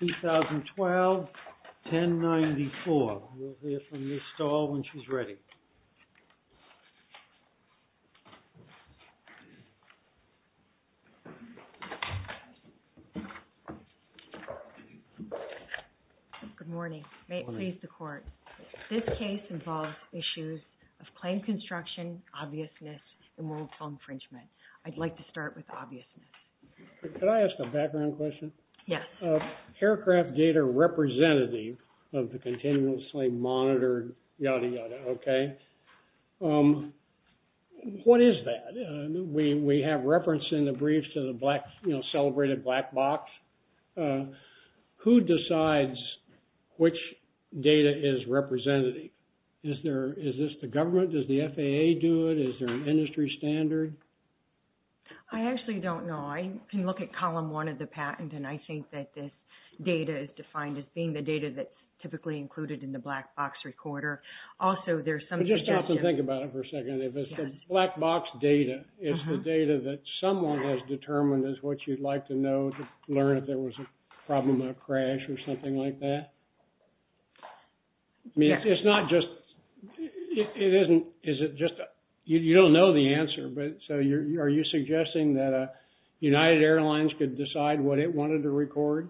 2012, 1094. We'll hear from Ms. Stahl when she's ready. Good morning. May it please the Court. This case involves issues of claim construction, obviousness, and moral infringement. I'd like to start with obviousness. Could I ask a background question? Yes. Aircraft data representative of the continuously monitored, yada, yada, okay. What is that? We have reference in the briefs to the black, you know, celebrated black box. Who decides which data is representative? Is this the government? Does the FAA do it? Is there an industry standard? I actually don't know. I can look at column one of the patent, and I think that this data is defined as being the data that's typically included in the black box recorder. Also, there's some suggestions. Let's think about it for a second. If it's the black box data, is the data that someone has determined is what you'd like to know to learn if there was a problem, a crash, or something like that? It's not just, it isn't, is it just, you don't know the answer, but so are you suggesting that United Airlines could decide what it wanted to record?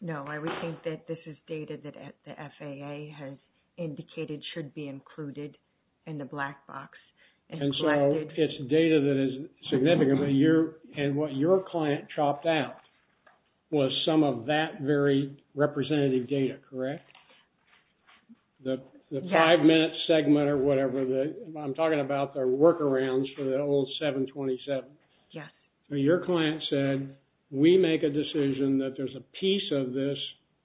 No, I would think that this is data that the FAA has indicated should be included in the black box. And so it's data that is significant, and what your client chopped out was some of that very representative data, correct? The five-minute segment or whatever, I'm talking about the workarounds for the old 727. Your client said, we make a decision that there's a piece of this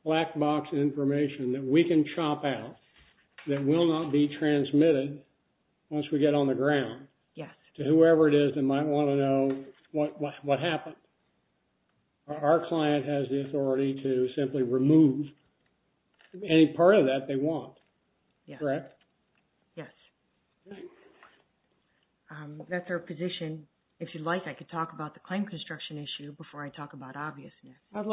black box information that we can chop out that will not be transmitted once we get on the ground to whoever it is that might want to know what happened. Our client has the authority to simply remove any part of that they want, correct? Yes. That's our position. If you'd like, I could talk about the claim construction issue before I talk about obviousness. That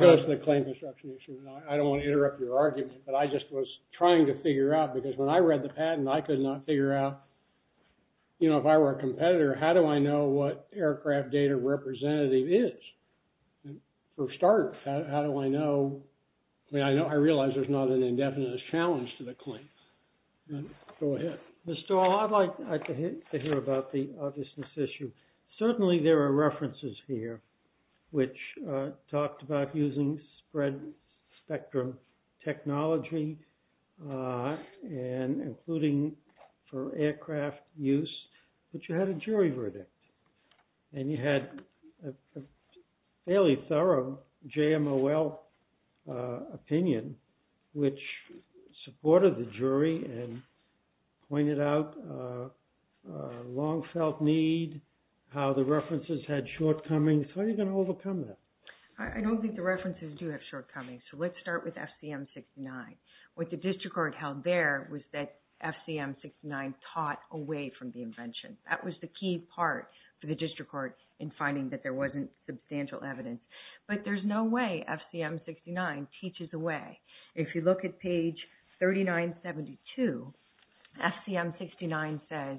goes to the claim construction issue. I don't want to interrupt your argument, but I just was trying to figure out, because when I read the patent, I could not figure out, you know, if I were a competitor, how do I know what aircraft data representative is? For a start, how do I know? I mean, I realize there's not an indefinite challenge to the claim. Go ahead. Mr. Hall, I'd like to hear about the obviousness issue. Certainly there are references here which talked about using spread spectrum technology and including for aircraft use, but you had a jury verdict. And you had a fairly thorough JMOL opinion, which supported the jury and pointed out a long felt need, how the references had shortcomings. How are you going to overcome that? I don't think the references do have shortcomings. So let's start with FCM 69. What the district court held there was that FCM 69 taught away from the invention. That was the key part for the district court in finding that there wasn't substantial evidence. But there's no way FCM 69 teaches away. If you look at page 3972, FCM 69 says,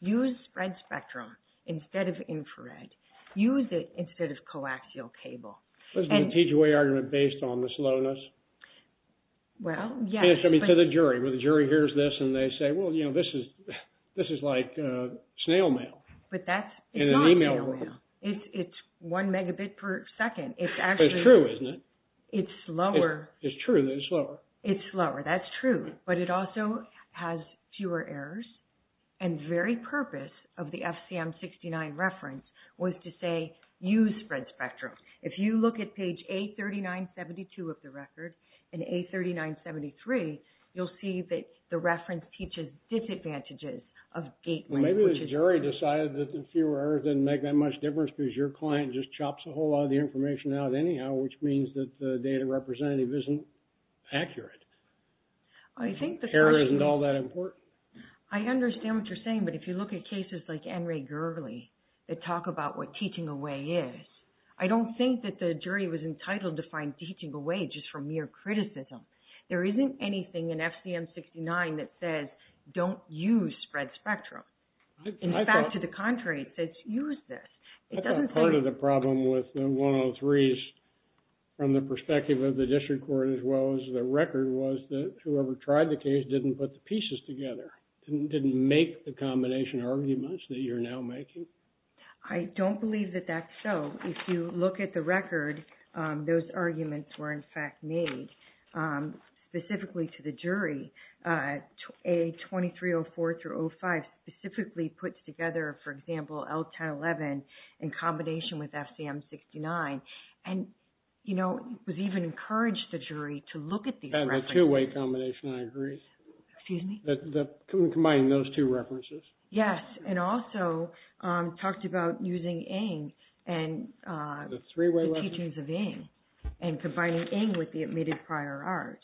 use spread spectrum instead of infrared. Use it instead of coaxial cable. Wasn't it a teach away argument based on the slowness? Well, yes. I mean, to the jury. When the jury hears this and they say, well, you know, this is like snail mail in an email room. It's not snail mail. It's one megabit per second. It's true, isn't it? It's slower. It's true that it's slower. It's slower. That's true. But it also has fewer errors. And the very purpose of the FCM 69 reference was to say, use spread spectrum. If you look at page 83972 of the record and 83973, you'll see that the reference teaches disadvantages of gateways. Maybe the jury decided that the fewer errors didn't make that much difference because your client just chops a whole lot of the information out anyhow, which means that the data representative isn't accurate. Error isn't all that important. I understand what you're saying, but if you look at cases like N. Ray Gurley that talk about what teaching away is, I don't think that the jury was entitled to find teaching away just from mere criticism. There isn't anything in FCM 69 that says, don't use spread spectrum. In fact, to the contrary, it says, use this. I thought part of the problem with the 103s from the perspective of the district court as well as the record was that whoever tried the case didn't put the pieces together, didn't make the combination arguments that you're now making. I don't believe that that's so. If you look at the record, those arguments were, in fact, made specifically to the jury. A2304 through 05 specifically puts together, for example, L1011 in combination with FCM 69. And, you know, it was even encouraged the jury to look at these references. And the two-way combination, I agree. Excuse me? Combining those two references. Yes, and also talked about using NG and the teachings of NG and combining NG with the admitted prior art.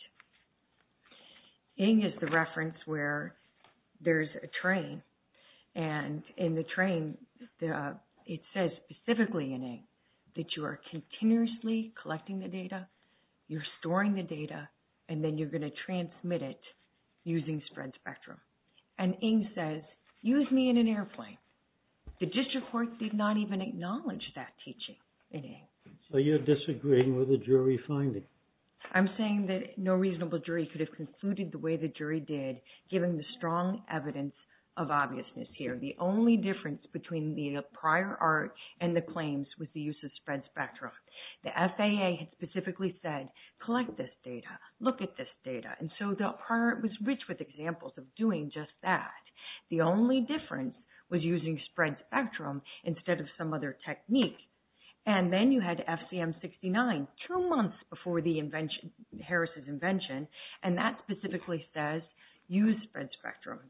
NG is the reference where there's a train, and in the train, it says specifically in NG that you are continuously collecting the data, you're storing the data, and then you're going to transmit it using spread spectrum. And NG says, use me in an airplane. The district court did not even acknowledge that teaching in NG. So you're disagreeing with the jury finding? I'm saying that no reasonable jury could have concluded the way the jury did, given the strong evidence of obviousness here. The only difference between the prior art and the claims was the use of spread spectrum. The FAA had specifically said, collect this data, look at this data. And so the prior art was rich with examples of doing just that. The only difference was using spread spectrum instead of some other technique. And then you had FCM 69, two months before the invention, Harris's invention, and that specifically says, use spread spectrum.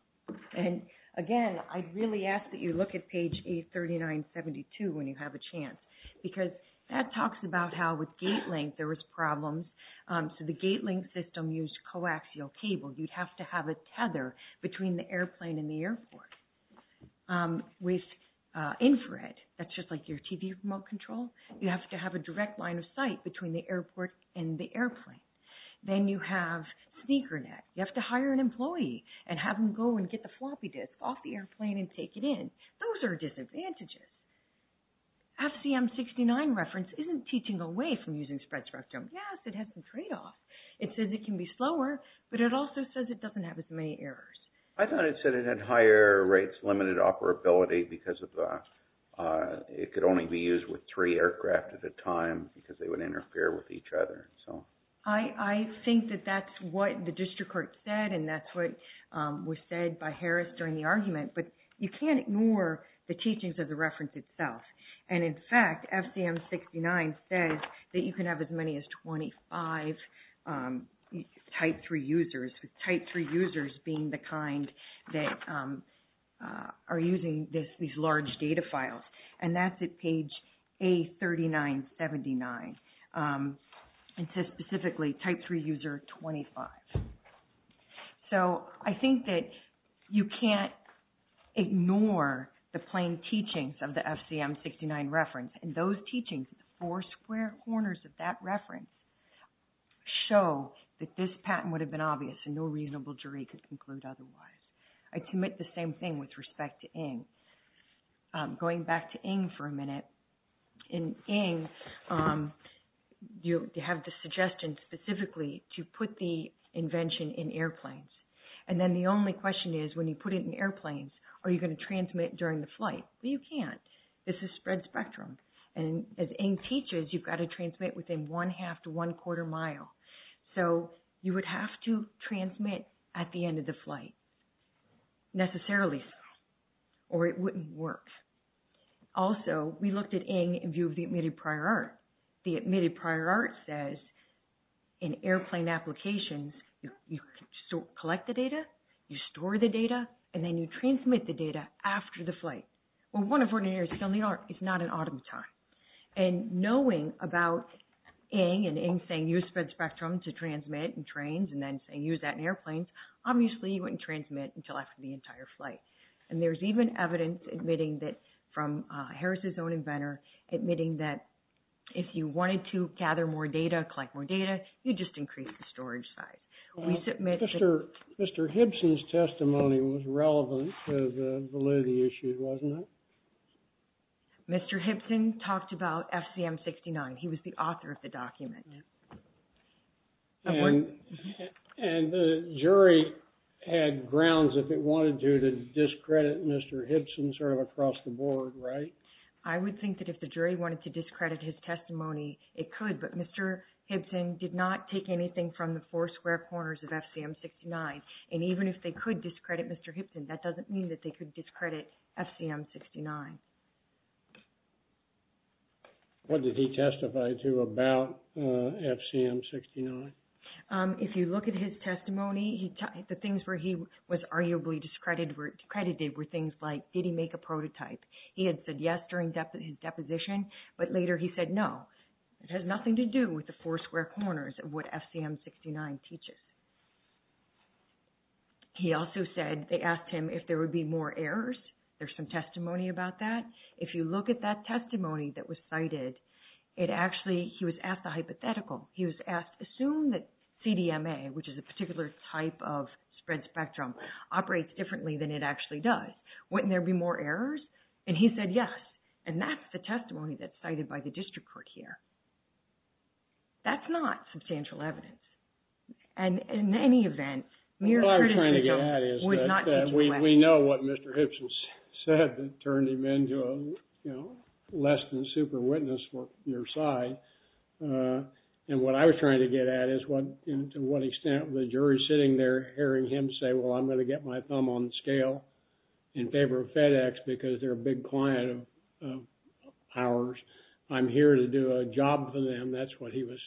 And again, I really ask that you look at page A3972 when you have a chance, because that talks about how with gate link there was problems. So the gate link system used coaxial cable. You'd have to have a tether between the airplane and the airport with infrared. That's just like your TV remote control. You have to have a direct line of sight between the airport and the airplane. Then you have sneaker net. You have to hire an employee and have them go and get the floppy disk off the airplane and take it in. Those are disadvantages. FCM 69 reference isn't teaching away from using spread spectrum. Yes, it has some tradeoffs. It says it can be slower, but it also says it doesn't have as many errors. I thought it said it had higher rates, limited operability because it could only be used with three aircraft at a time because they would interfere with each other. I think that that's what the district court said, and that's what was said by Harris during the argument. But you can't ignore the teachings of the reference itself. And in fact, FCM 69 says that you can have as many as 25 type 3 users, with type 3 users being the kind that are using these large data files. And that's at page A3979. It says specifically type 3 user 25. So I think that you can't ignore the plain teachings of the FCM 69 reference. And those teachings, the four square corners of that reference, show that this patent would have been obvious and no reasonable jury could conclude otherwise. I commit the same thing with respect to Ng. Going back to Ng for a minute. In Ng, you have the suggestion specifically to put the invention in airplanes. And then the only question is, when you put it in airplanes, are you going to transmit during the flight? Well, you can't. This is spread spectrum. And as Ng teaches, you've got to transmit within one-half to one-quarter mile. So you would have to transmit at the end of the flight necessarily, or it wouldn't work. Also, we looked at Ng in view of the admitted prior art. The admitted prior art says in airplane applications, you collect the data, you store the data, and then you transmit the data after the flight. Well, one of the ordinaries is not in automaton. And knowing about Ng and Ng saying use spread spectrum to transmit in trains and then saying use that in airplanes, obviously you wouldn't transmit until after the entire flight. And there's even evidence admitting that from Harris' own inventor, admitting that if you wanted to gather more data, collect more data, you'd just increase the storage size. Mr. Hibson's testimony was relevant to the validity issue, wasn't it? Mr. Hibson talked about FCM 69. And the jury had grounds if it wanted to discredit Mr. Hibson sort of across the board, right? I would think that if the jury wanted to discredit his testimony, it could. But Mr. Hibson did not take anything from the four square corners of FCM 69. And even if they could discredit Mr. Hibson, that doesn't mean that they could discredit FCM 69. What did he testify to about FCM 69? If you look at his testimony, the things where he was arguably discredited were things like, did he make a prototype? He had said yes during his deposition, but later he said no. It has nothing to do with the four square corners of what FCM 69 teaches. He also said they asked him if there would be more errors. There's some testimony about that. If you look at that testimony that was cited, it actually, he was asked a hypothetical. He was asked, assume that CDMA, which is a particular type of spread spectrum, operates differently than it actually does. Wouldn't there be more errors? And he said yes. And that's the testimony that's cited by the district court here. That's not substantial evidence. And in any event, mere credentials would not teach him well. What I'm trying to get at is that we know what Mr. Hibson said that turned him into a less than super witness for your side. And what I was trying to get at is to what extent the jury sitting there hearing him say, well, I'm going to get my thumb on the scale in favor of FedEx because they're a big client of ours. I'm here to do a job for them. That's what he was,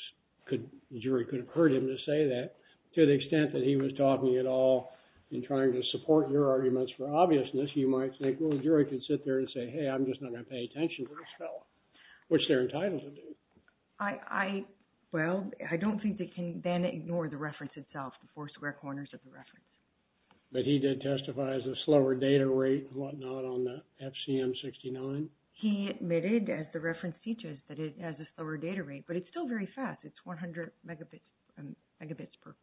the jury could have heard him to say that. To the extent that he was talking it all and trying to support your arguments for obviousness, you might think, well, the jury could sit there and say, hey, I'm just not going to pay attention to this fellow, which they're entitled to do. I, well, I don't think they can then ignore the reference itself, the four square corners of the reference. But he did testify as a slower data rate and whatnot on the FCM 69. He admitted, as the reference teaches, that it has a slower data rate, but it's still very fast. It's 100 megabits per second.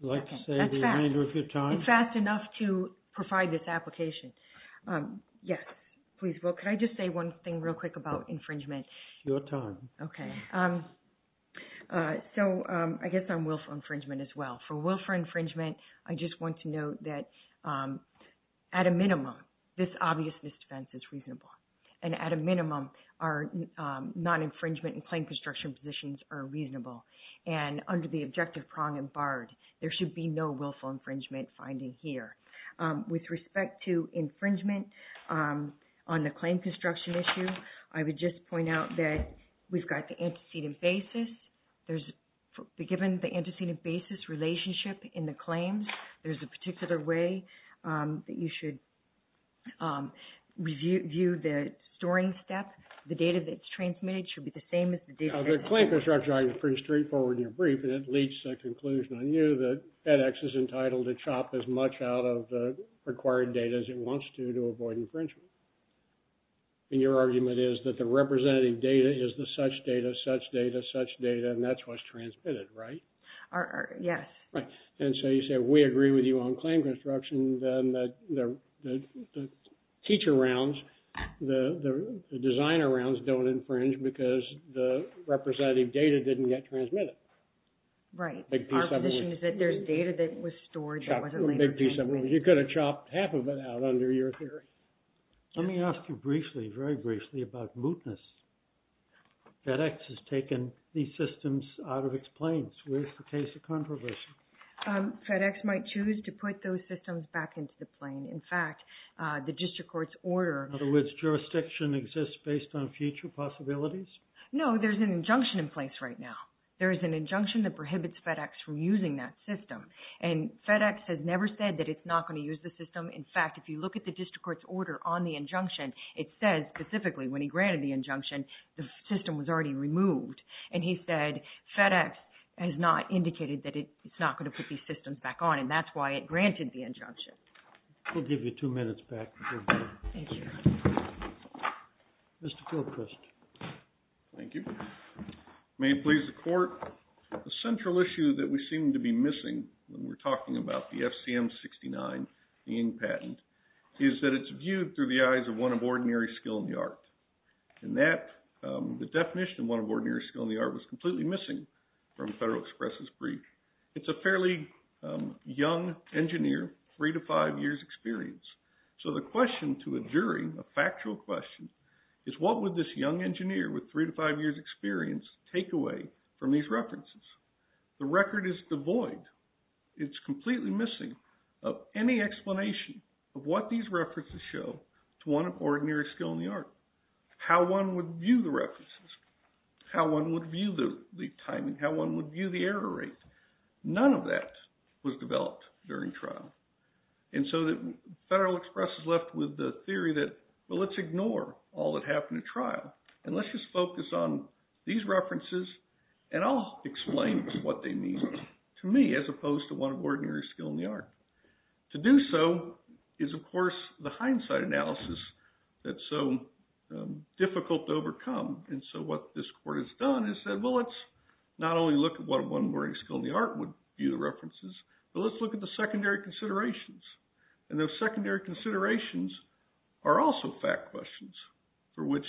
Would you like to say the remainder of your time? It's fast enough to provide this application. Yes, please. Well, could I just say one thing real quick about infringement? Your time. Okay. So I guess I'm willful infringement as well. For willful infringement, I just want to note that at a minimum, this obvious misdefense is reasonable. And at a minimum, our non-infringement and claim construction positions are reasonable. And under the objective prong and barred, there should be no willful infringement finding here. With respect to infringement on the claim construction issue, I would just point out that we've got the antecedent basis. Given the antecedent basis relationship in the claims, there's a particular way that you should review the storing step. The data that's transmitted should be the same as the data that's transmitted. The claim construction argument is pretty straightforward in your brief. And it leads to a conclusion on you that FedEx is entitled to chop as much out of the required data as it wants to to avoid infringement. And your argument is that the representative data is the such data, such data, such data, and that's what's transmitted, right? Yes. Right. And so you say we agree with you on claim construction, then the teacher rounds, the designer rounds don't infringe because the representative data didn't get transmitted. Right. Our position is that there's data that was stored that wasn't later transmitted. You could have chopped half of it out under your theory. Let me ask you briefly, very briefly about mootness. FedEx has taken these systems out of its planes. Where's the case of controversy? FedEx might choose to put those systems back into the plane. In fact, the district court's order… In other words, jurisdiction exists based on future possibilities? No, there's an injunction in place right now. There is an injunction that prohibits FedEx from using that system. And FedEx has never said that it's not going to use the system. In fact, if you look at the district court's order on the injunction, it says specifically when he granted the injunction, the system was already removed. And he said FedEx has not indicated that it's not going to put these systems back on, and that's why it granted the injunction. We'll give you two minutes back. Thank you. Mr. Fortquist. Thank you. May it please the court. The central issue that we seem to be missing when we're talking about the FCM-69, the Ng patent, is that it's viewed through the eyes of one of ordinary skill in the art. And that, the definition of one of ordinary skill in the art was completely missing from Federal Express' brief. It's a fairly young engineer, three to five years' experience. So the question to a jury, a factual question, is what would this young engineer with three to five years' experience take away from these references? The record is devoid. It's completely missing of any explanation of what these references show to one of ordinary skill in the art. How one would view the references, how one would view the timing, how one would view the error rate. None of that was developed during trial. And so Federal Express is left with the theory that, well, let's ignore all that happened at trial. And let's just focus on these references, and I'll explain what they mean to me as opposed to one of ordinary skill in the art. To do so is, of course, the hindsight analysis that's so difficult to overcome. And so what this court has done is said, well, let's not only look at what one of ordinary skill in the art would view the references, but let's look at the secondary considerations. And those secondary considerations are also fact questions for which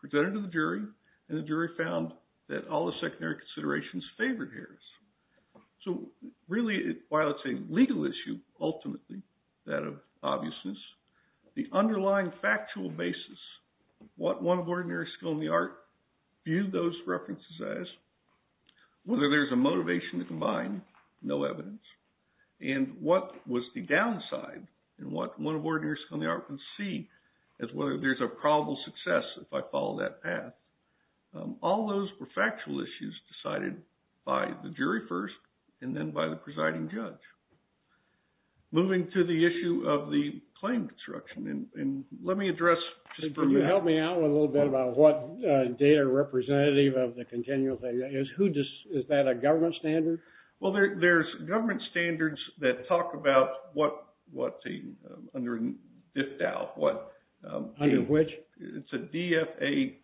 presented to the jury, and the jury found that all the secondary considerations favored Harris. So really, while it's a legal issue, ultimately, that of obviousness, the underlying factual basis, what one of ordinary skill in the art viewed those references as, whether there's a motivation to combine, no evidence. And what was the downside in what one of ordinary skill in the art can see as whether there's a probable success if I follow that path. All those were factual issues decided by the jury first, and then by the presiding judge. Moving to the issue of the claim construction, and let me address just for now. Can you help me out a little bit about what data representative of the continual thing is? Is that a government standard? Well, there's government standards that talk about what's under FDAL. Under which? It's a DFAAU.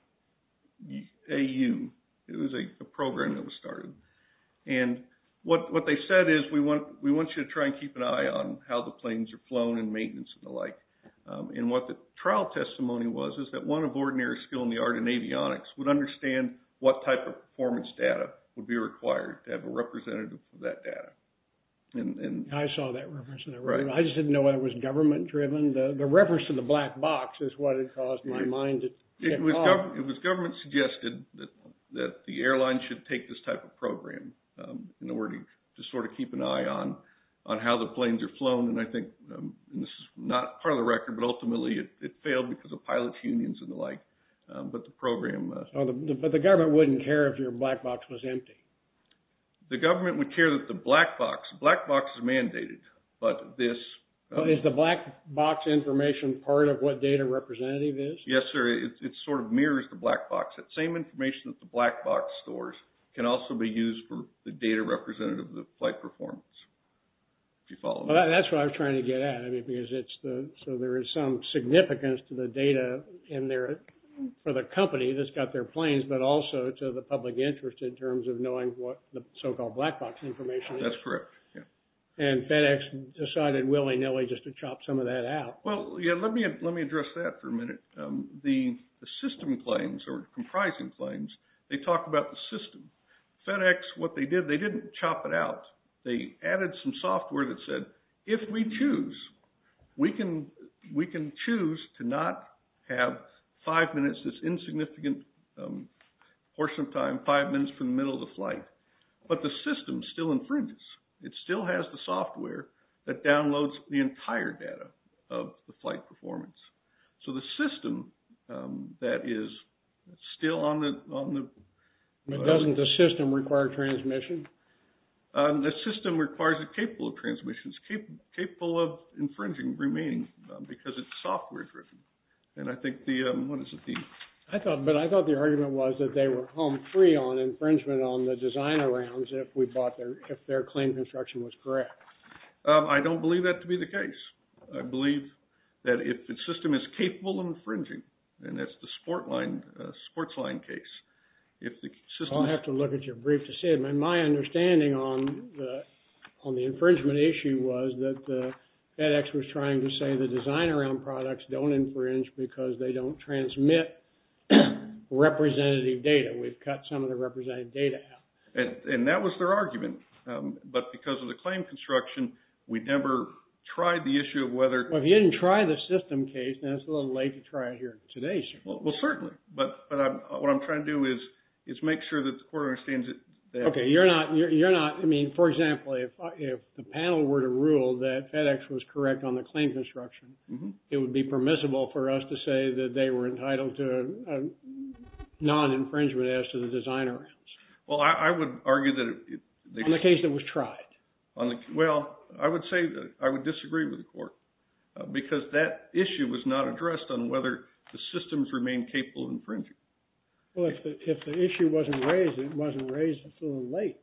It was a program that was started. And what they said is, we want you to try and keep an eye on how the planes are flown and maintenance and the like. And what the trial testimony was is that one of ordinary skill in the art in avionics would understand what type of performance data would be required to have a representative for that data. I saw that reference. I just didn't know whether it was government driven. The reference to the black box is what had caused my mind to get lost. It was government suggested that the airline should take this type of program in order to sort of keep an eye on how the planes are flown. And I think, and this is not part of the record, but ultimately it failed because of pilot unions and the like. But the program... But the government wouldn't care if your black box was empty. The government would care that the black box... Black box is mandated. But this... Is the black box information part of what data representative is? Yes, sir. It sort of mirrors the black box. That same information that the black box stores can also be used for the data representative of the flight performance, if you follow me. Well, that's what I was trying to get at. I mean, because it's the... So there is some significance to the data in there for the company that's got their planes, but also to the public interest in terms of knowing what the so-called black box information is. That's correct, yeah. And FedEx decided willy-nilly just to chop some of that out. Well, yeah, let me address that for a minute. The system planes or comprising planes, they talk about the system. FedEx, what they did, they didn't chop it out. They added some software that said, if we choose, we can choose to not have five minutes, this insignificant portion of time, five minutes from the middle of the flight. But the system still infringes. It still has the software that downloads the entire data of the flight performance. So the system that is still on the... But doesn't the system require transmission? The system requires it capable of transmissions, capable of infringing, remaining, because it's software-driven. And I think the... What is the theme? But I thought the argument was that they were home free on infringement on the designer rounds if their claim construction was correct. I don't believe that to be the case. I believe that if the system is capable of infringing, and that's the Sportsline case, if the system... I'll have to look at your brief to see. My understanding on the infringement issue was that FedEx was trying to say the designer round products don't infringe because they don't transmit representative data. We've cut some of the representative data out. And that was their argument. But because of the claim construction, we never tried the issue of whether... Well, if you didn't try the system case, then it's a little late to try it here today, sir. Well, certainly. But what I'm trying to do is make sure that the court understands that... Okay. You're not... I mean, for example, if the panel were to rule that FedEx was correct on the claim construction, it would be permissible for us to say that they were entitled to a non-infringement as to the designer rounds. Well, I would argue that... On the case that was tried. Well, I would say that I would disagree with the court because that issue was not addressed on whether the systems remain capable of infringing. Well, if the issue wasn't raised, it wasn't raised until late.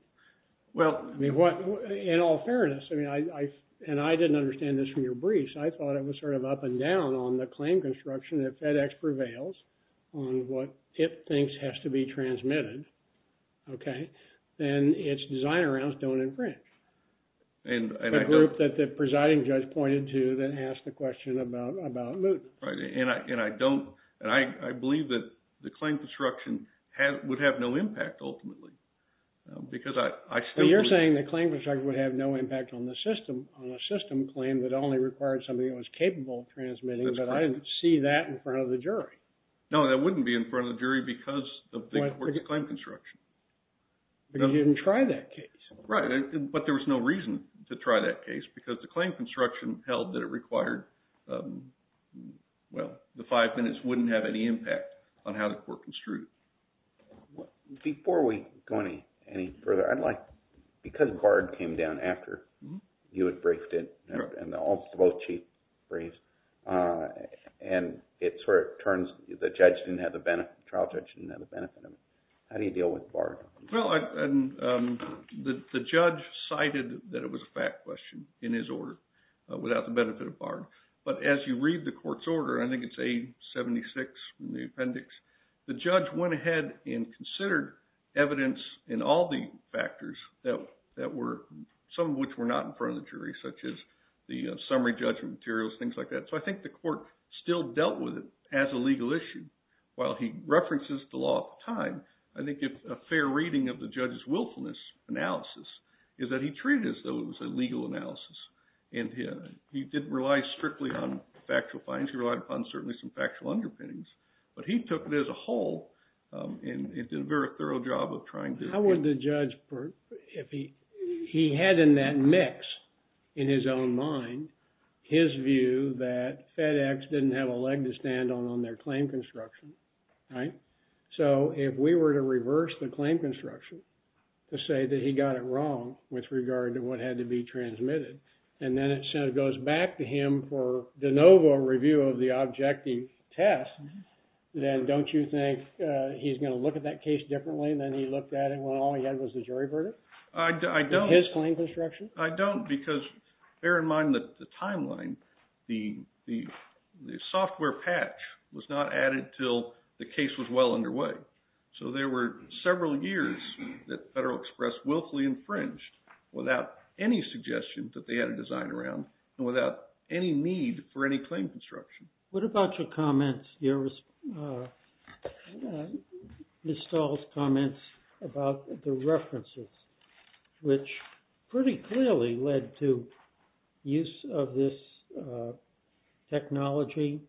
Well... I mean, what... In all fairness, I mean, I... And I didn't understand this from your brief, so I thought it was sort of up and down on the claim construction that FedEx prevails on what it thinks has to be transmitted. Okay? Then its designer rounds don't infringe. And I don't... The group that the presiding judge pointed to that asked the question about moot. Right. And I don't... And I believe that the claim construction would have no impact, ultimately. Because I still... Well, you're saying the claim construction would have no impact on the system, on a system claim that only required something that was capable of transmitting. That's correct. But I didn't see that in front of the jury. No, that wouldn't be in front of the jury because of the court's claim construction. But you didn't try that case. Right. But there was no reason to try that case because the claim construction held that it required... Well, the five minutes wouldn't have any impact on how the court construed it. Before we go any further, I'd like... Because BARD came down after you had briefed it, and also both Chiefs briefed, and it sort of turns... The trial judge didn't have the benefit of it. How do you deal with BARD? Well, the judge cited that it was a fact question in his order without the benefit of BARD. But as you read the court's order, I think it's A-76 in the appendix, the judge went ahead and considered evidence in all the factors that were... the summary judgment materials, things like that. So I think the court still dealt with it as a legal issue. While he references the law of time, I think a fair reading of the judge's willfulness analysis is that he treated it as though it was a legal analysis. And he didn't rely strictly on factual findings. He relied upon certainly some factual underpinnings. But he took it as a whole and did a very thorough job of trying to... How would the judge, if he had in that mix, in his own mind, his view that FedEx didn't have a leg to stand on on their claim construction, right? So if we were to reverse the claim construction to say that he got it wrong with regard to what had to be transmitted, and then it sort of goes back to him for de novo review of the objective test, then don't you think he's going to look at that case differently than he looked at it when all he had was the jury verdict? I don't. His claim construction? I don't because bear in mind that the timeline, the software patch was not added until the case was well underway. So there were several years that Federal Express willfully infringed without any suggestion that they had a design around and without any need for any claim construction. What about your comments, Ms. Stahl's comments about the references, which pretty clearly led to use of this technology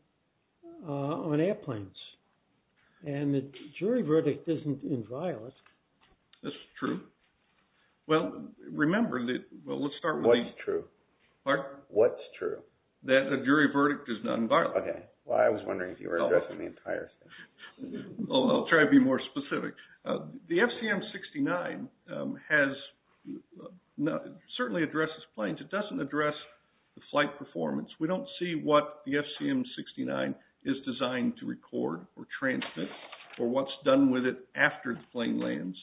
on airplanes? And the jury verdict isn't inviolate. That's true. Well, remember that... What's true? Pardon? What's true? That a jury verdict is not inviolate. Okay. Well, I was wondering if you were addressing the entire thing. I'll try to be more specific. The FCM-69 certainly addresses planes. It doesn't address the flight performance. We don't see what the FCM-69 is designed to record or transmit or what's done with it after the plane lands.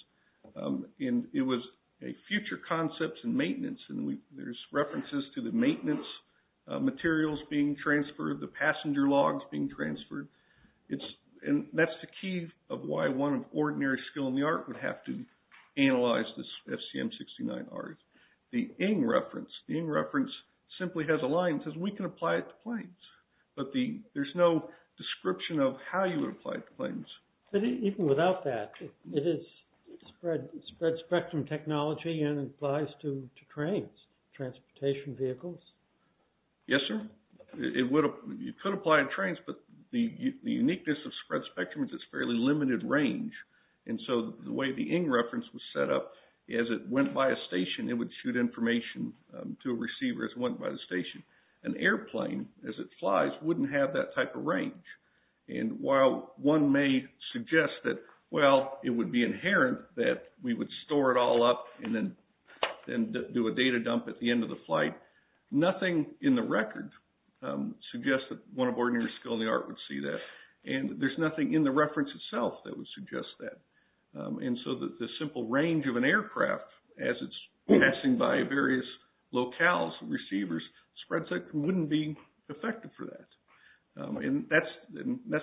It was a future concepts and maintenance, and there's references to the maintenance materials being transferred, the passenger logs being transferred. And that's the key of why one of ordinary skill in the art would have to analyze this FCM-69 art. The Ng reference simply has a line that says we can apply it to planes, but there's no description of how you would apply it to planes. But even without that, it is spread spectrum technology and applies to trains, transportation vehicles. Yes, sir. It could apply in trains, but the uniqueness of spread spectrum is it's fairly limited range. And so the way the Ng reference was set up, as it went by a station, it would shoot information to a receiver as it went by the station. An airplane, as it flies, wouldn't have that type of range. And while one may suggest that, well, it would be inherent that we would store it all up and then do a data dump at the end of the flight, nothing in the record suggests that one of ordinary skill in the art would see that. And there's nothing in the reference itself that would suggest that. And so the simple range of an aircraft, as it's passing by various locales and receivers, spread spectrum wouldn't be effective for that. And that's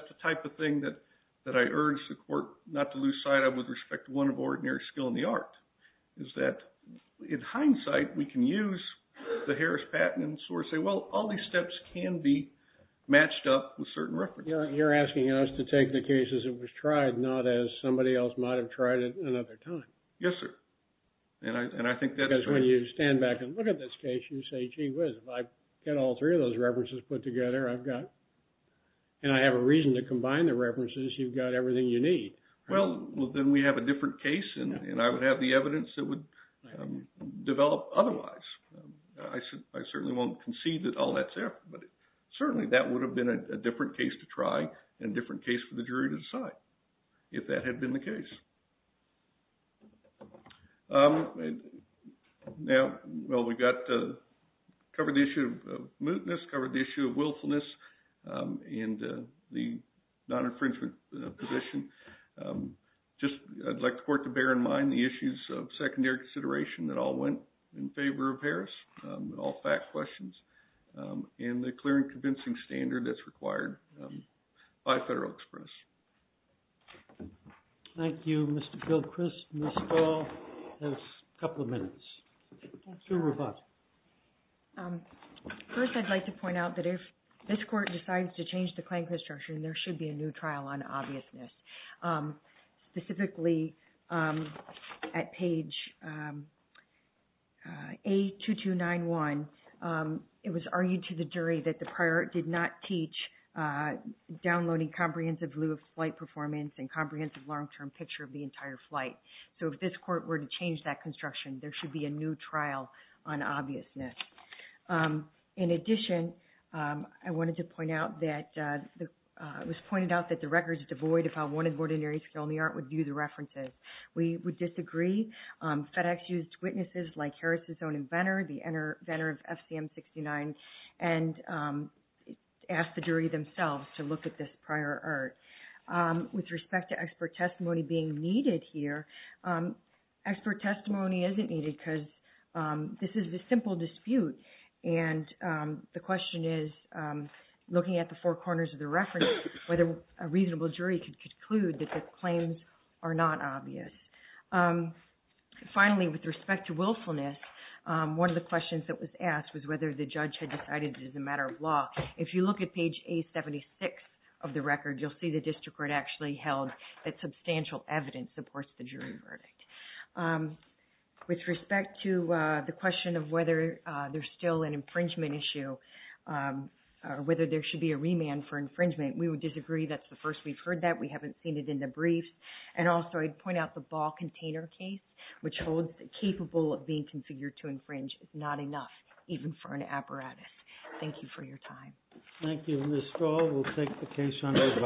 the type of thing that I urge the court not to lose sight of with respect to one of ordinary skill in the art, is that in hindsight, we can use the Harris patents or say, well, all these steps can be matched up with certain references. You're asking us to take the cases that was tried, not as somebody else might have tried it another time. Yes, sir. Because when you stand back and look at this case, you say, gee whiz, if I get all three of those references put together, and I have a reason to combine the references, you've got everything you need. Well, then we have a different case, and I would have the evidence that would develop otherwise. I certainly won't concede that all that's there, but certainly that would have been a different case to try and a different case for the jury to decide if that had been the case. Now, well, we got to cover the issue of mootness, covered the issue of willfulness and the non-infringement position. Just, I'd like the court to bear in mind the issues of secondary consideration that all went in favor of Harris, all fact questions, and the clear and convincing standard that's required by Federal Express. Thank you, Mr. Gilchrist. Ms. Stahl has a couple of minutes. Sure. First, I'd like to point out that if this court decides to change the claim construction, there should be a new trial on obviousness. Specifically, at page A2291, it was argued to the jury that the prior did not teach downloading comprehensive flight performance and comprehensive long-term picture of the entire flight. So if this court were to change that construction, there should be a new trial on obviousness. In addition, I wanted to point out that it was pointed out that the record is devoid if I wanted ordinary skill in the art would view the references. We would disagree. FedEx used witnesses like Harris' own inventor, the inventor of FCM 69, and asked the jury themselves to look at this prior art. With respect to expert testimony being needed here, expert testimony isn't needed because this is a simple dispute, and the question is, looking at the four corners of the reference, whether a reasonable jury could conclude that the claims are not obvious. Finally, with respect to willfulness, one of the questions that was asked was whether the judge had decided it was a matter of law. If you look at page A76 of the record, you'll see the district court actually held that substantial evidence supports the jury verdict. With respect to the question of whether there's still an infringement issue or whether there should be a remand for infringement, we would disagree. That's the first we've heard that. We haven't seen it in the briefs. Also, I'd point out the ball container case, which holds that capable of being configured to infringe is not enough, even for an apparatus. Thank you for your time. Thank you, Ms. Stahl. We'll take the case under review. Thank you.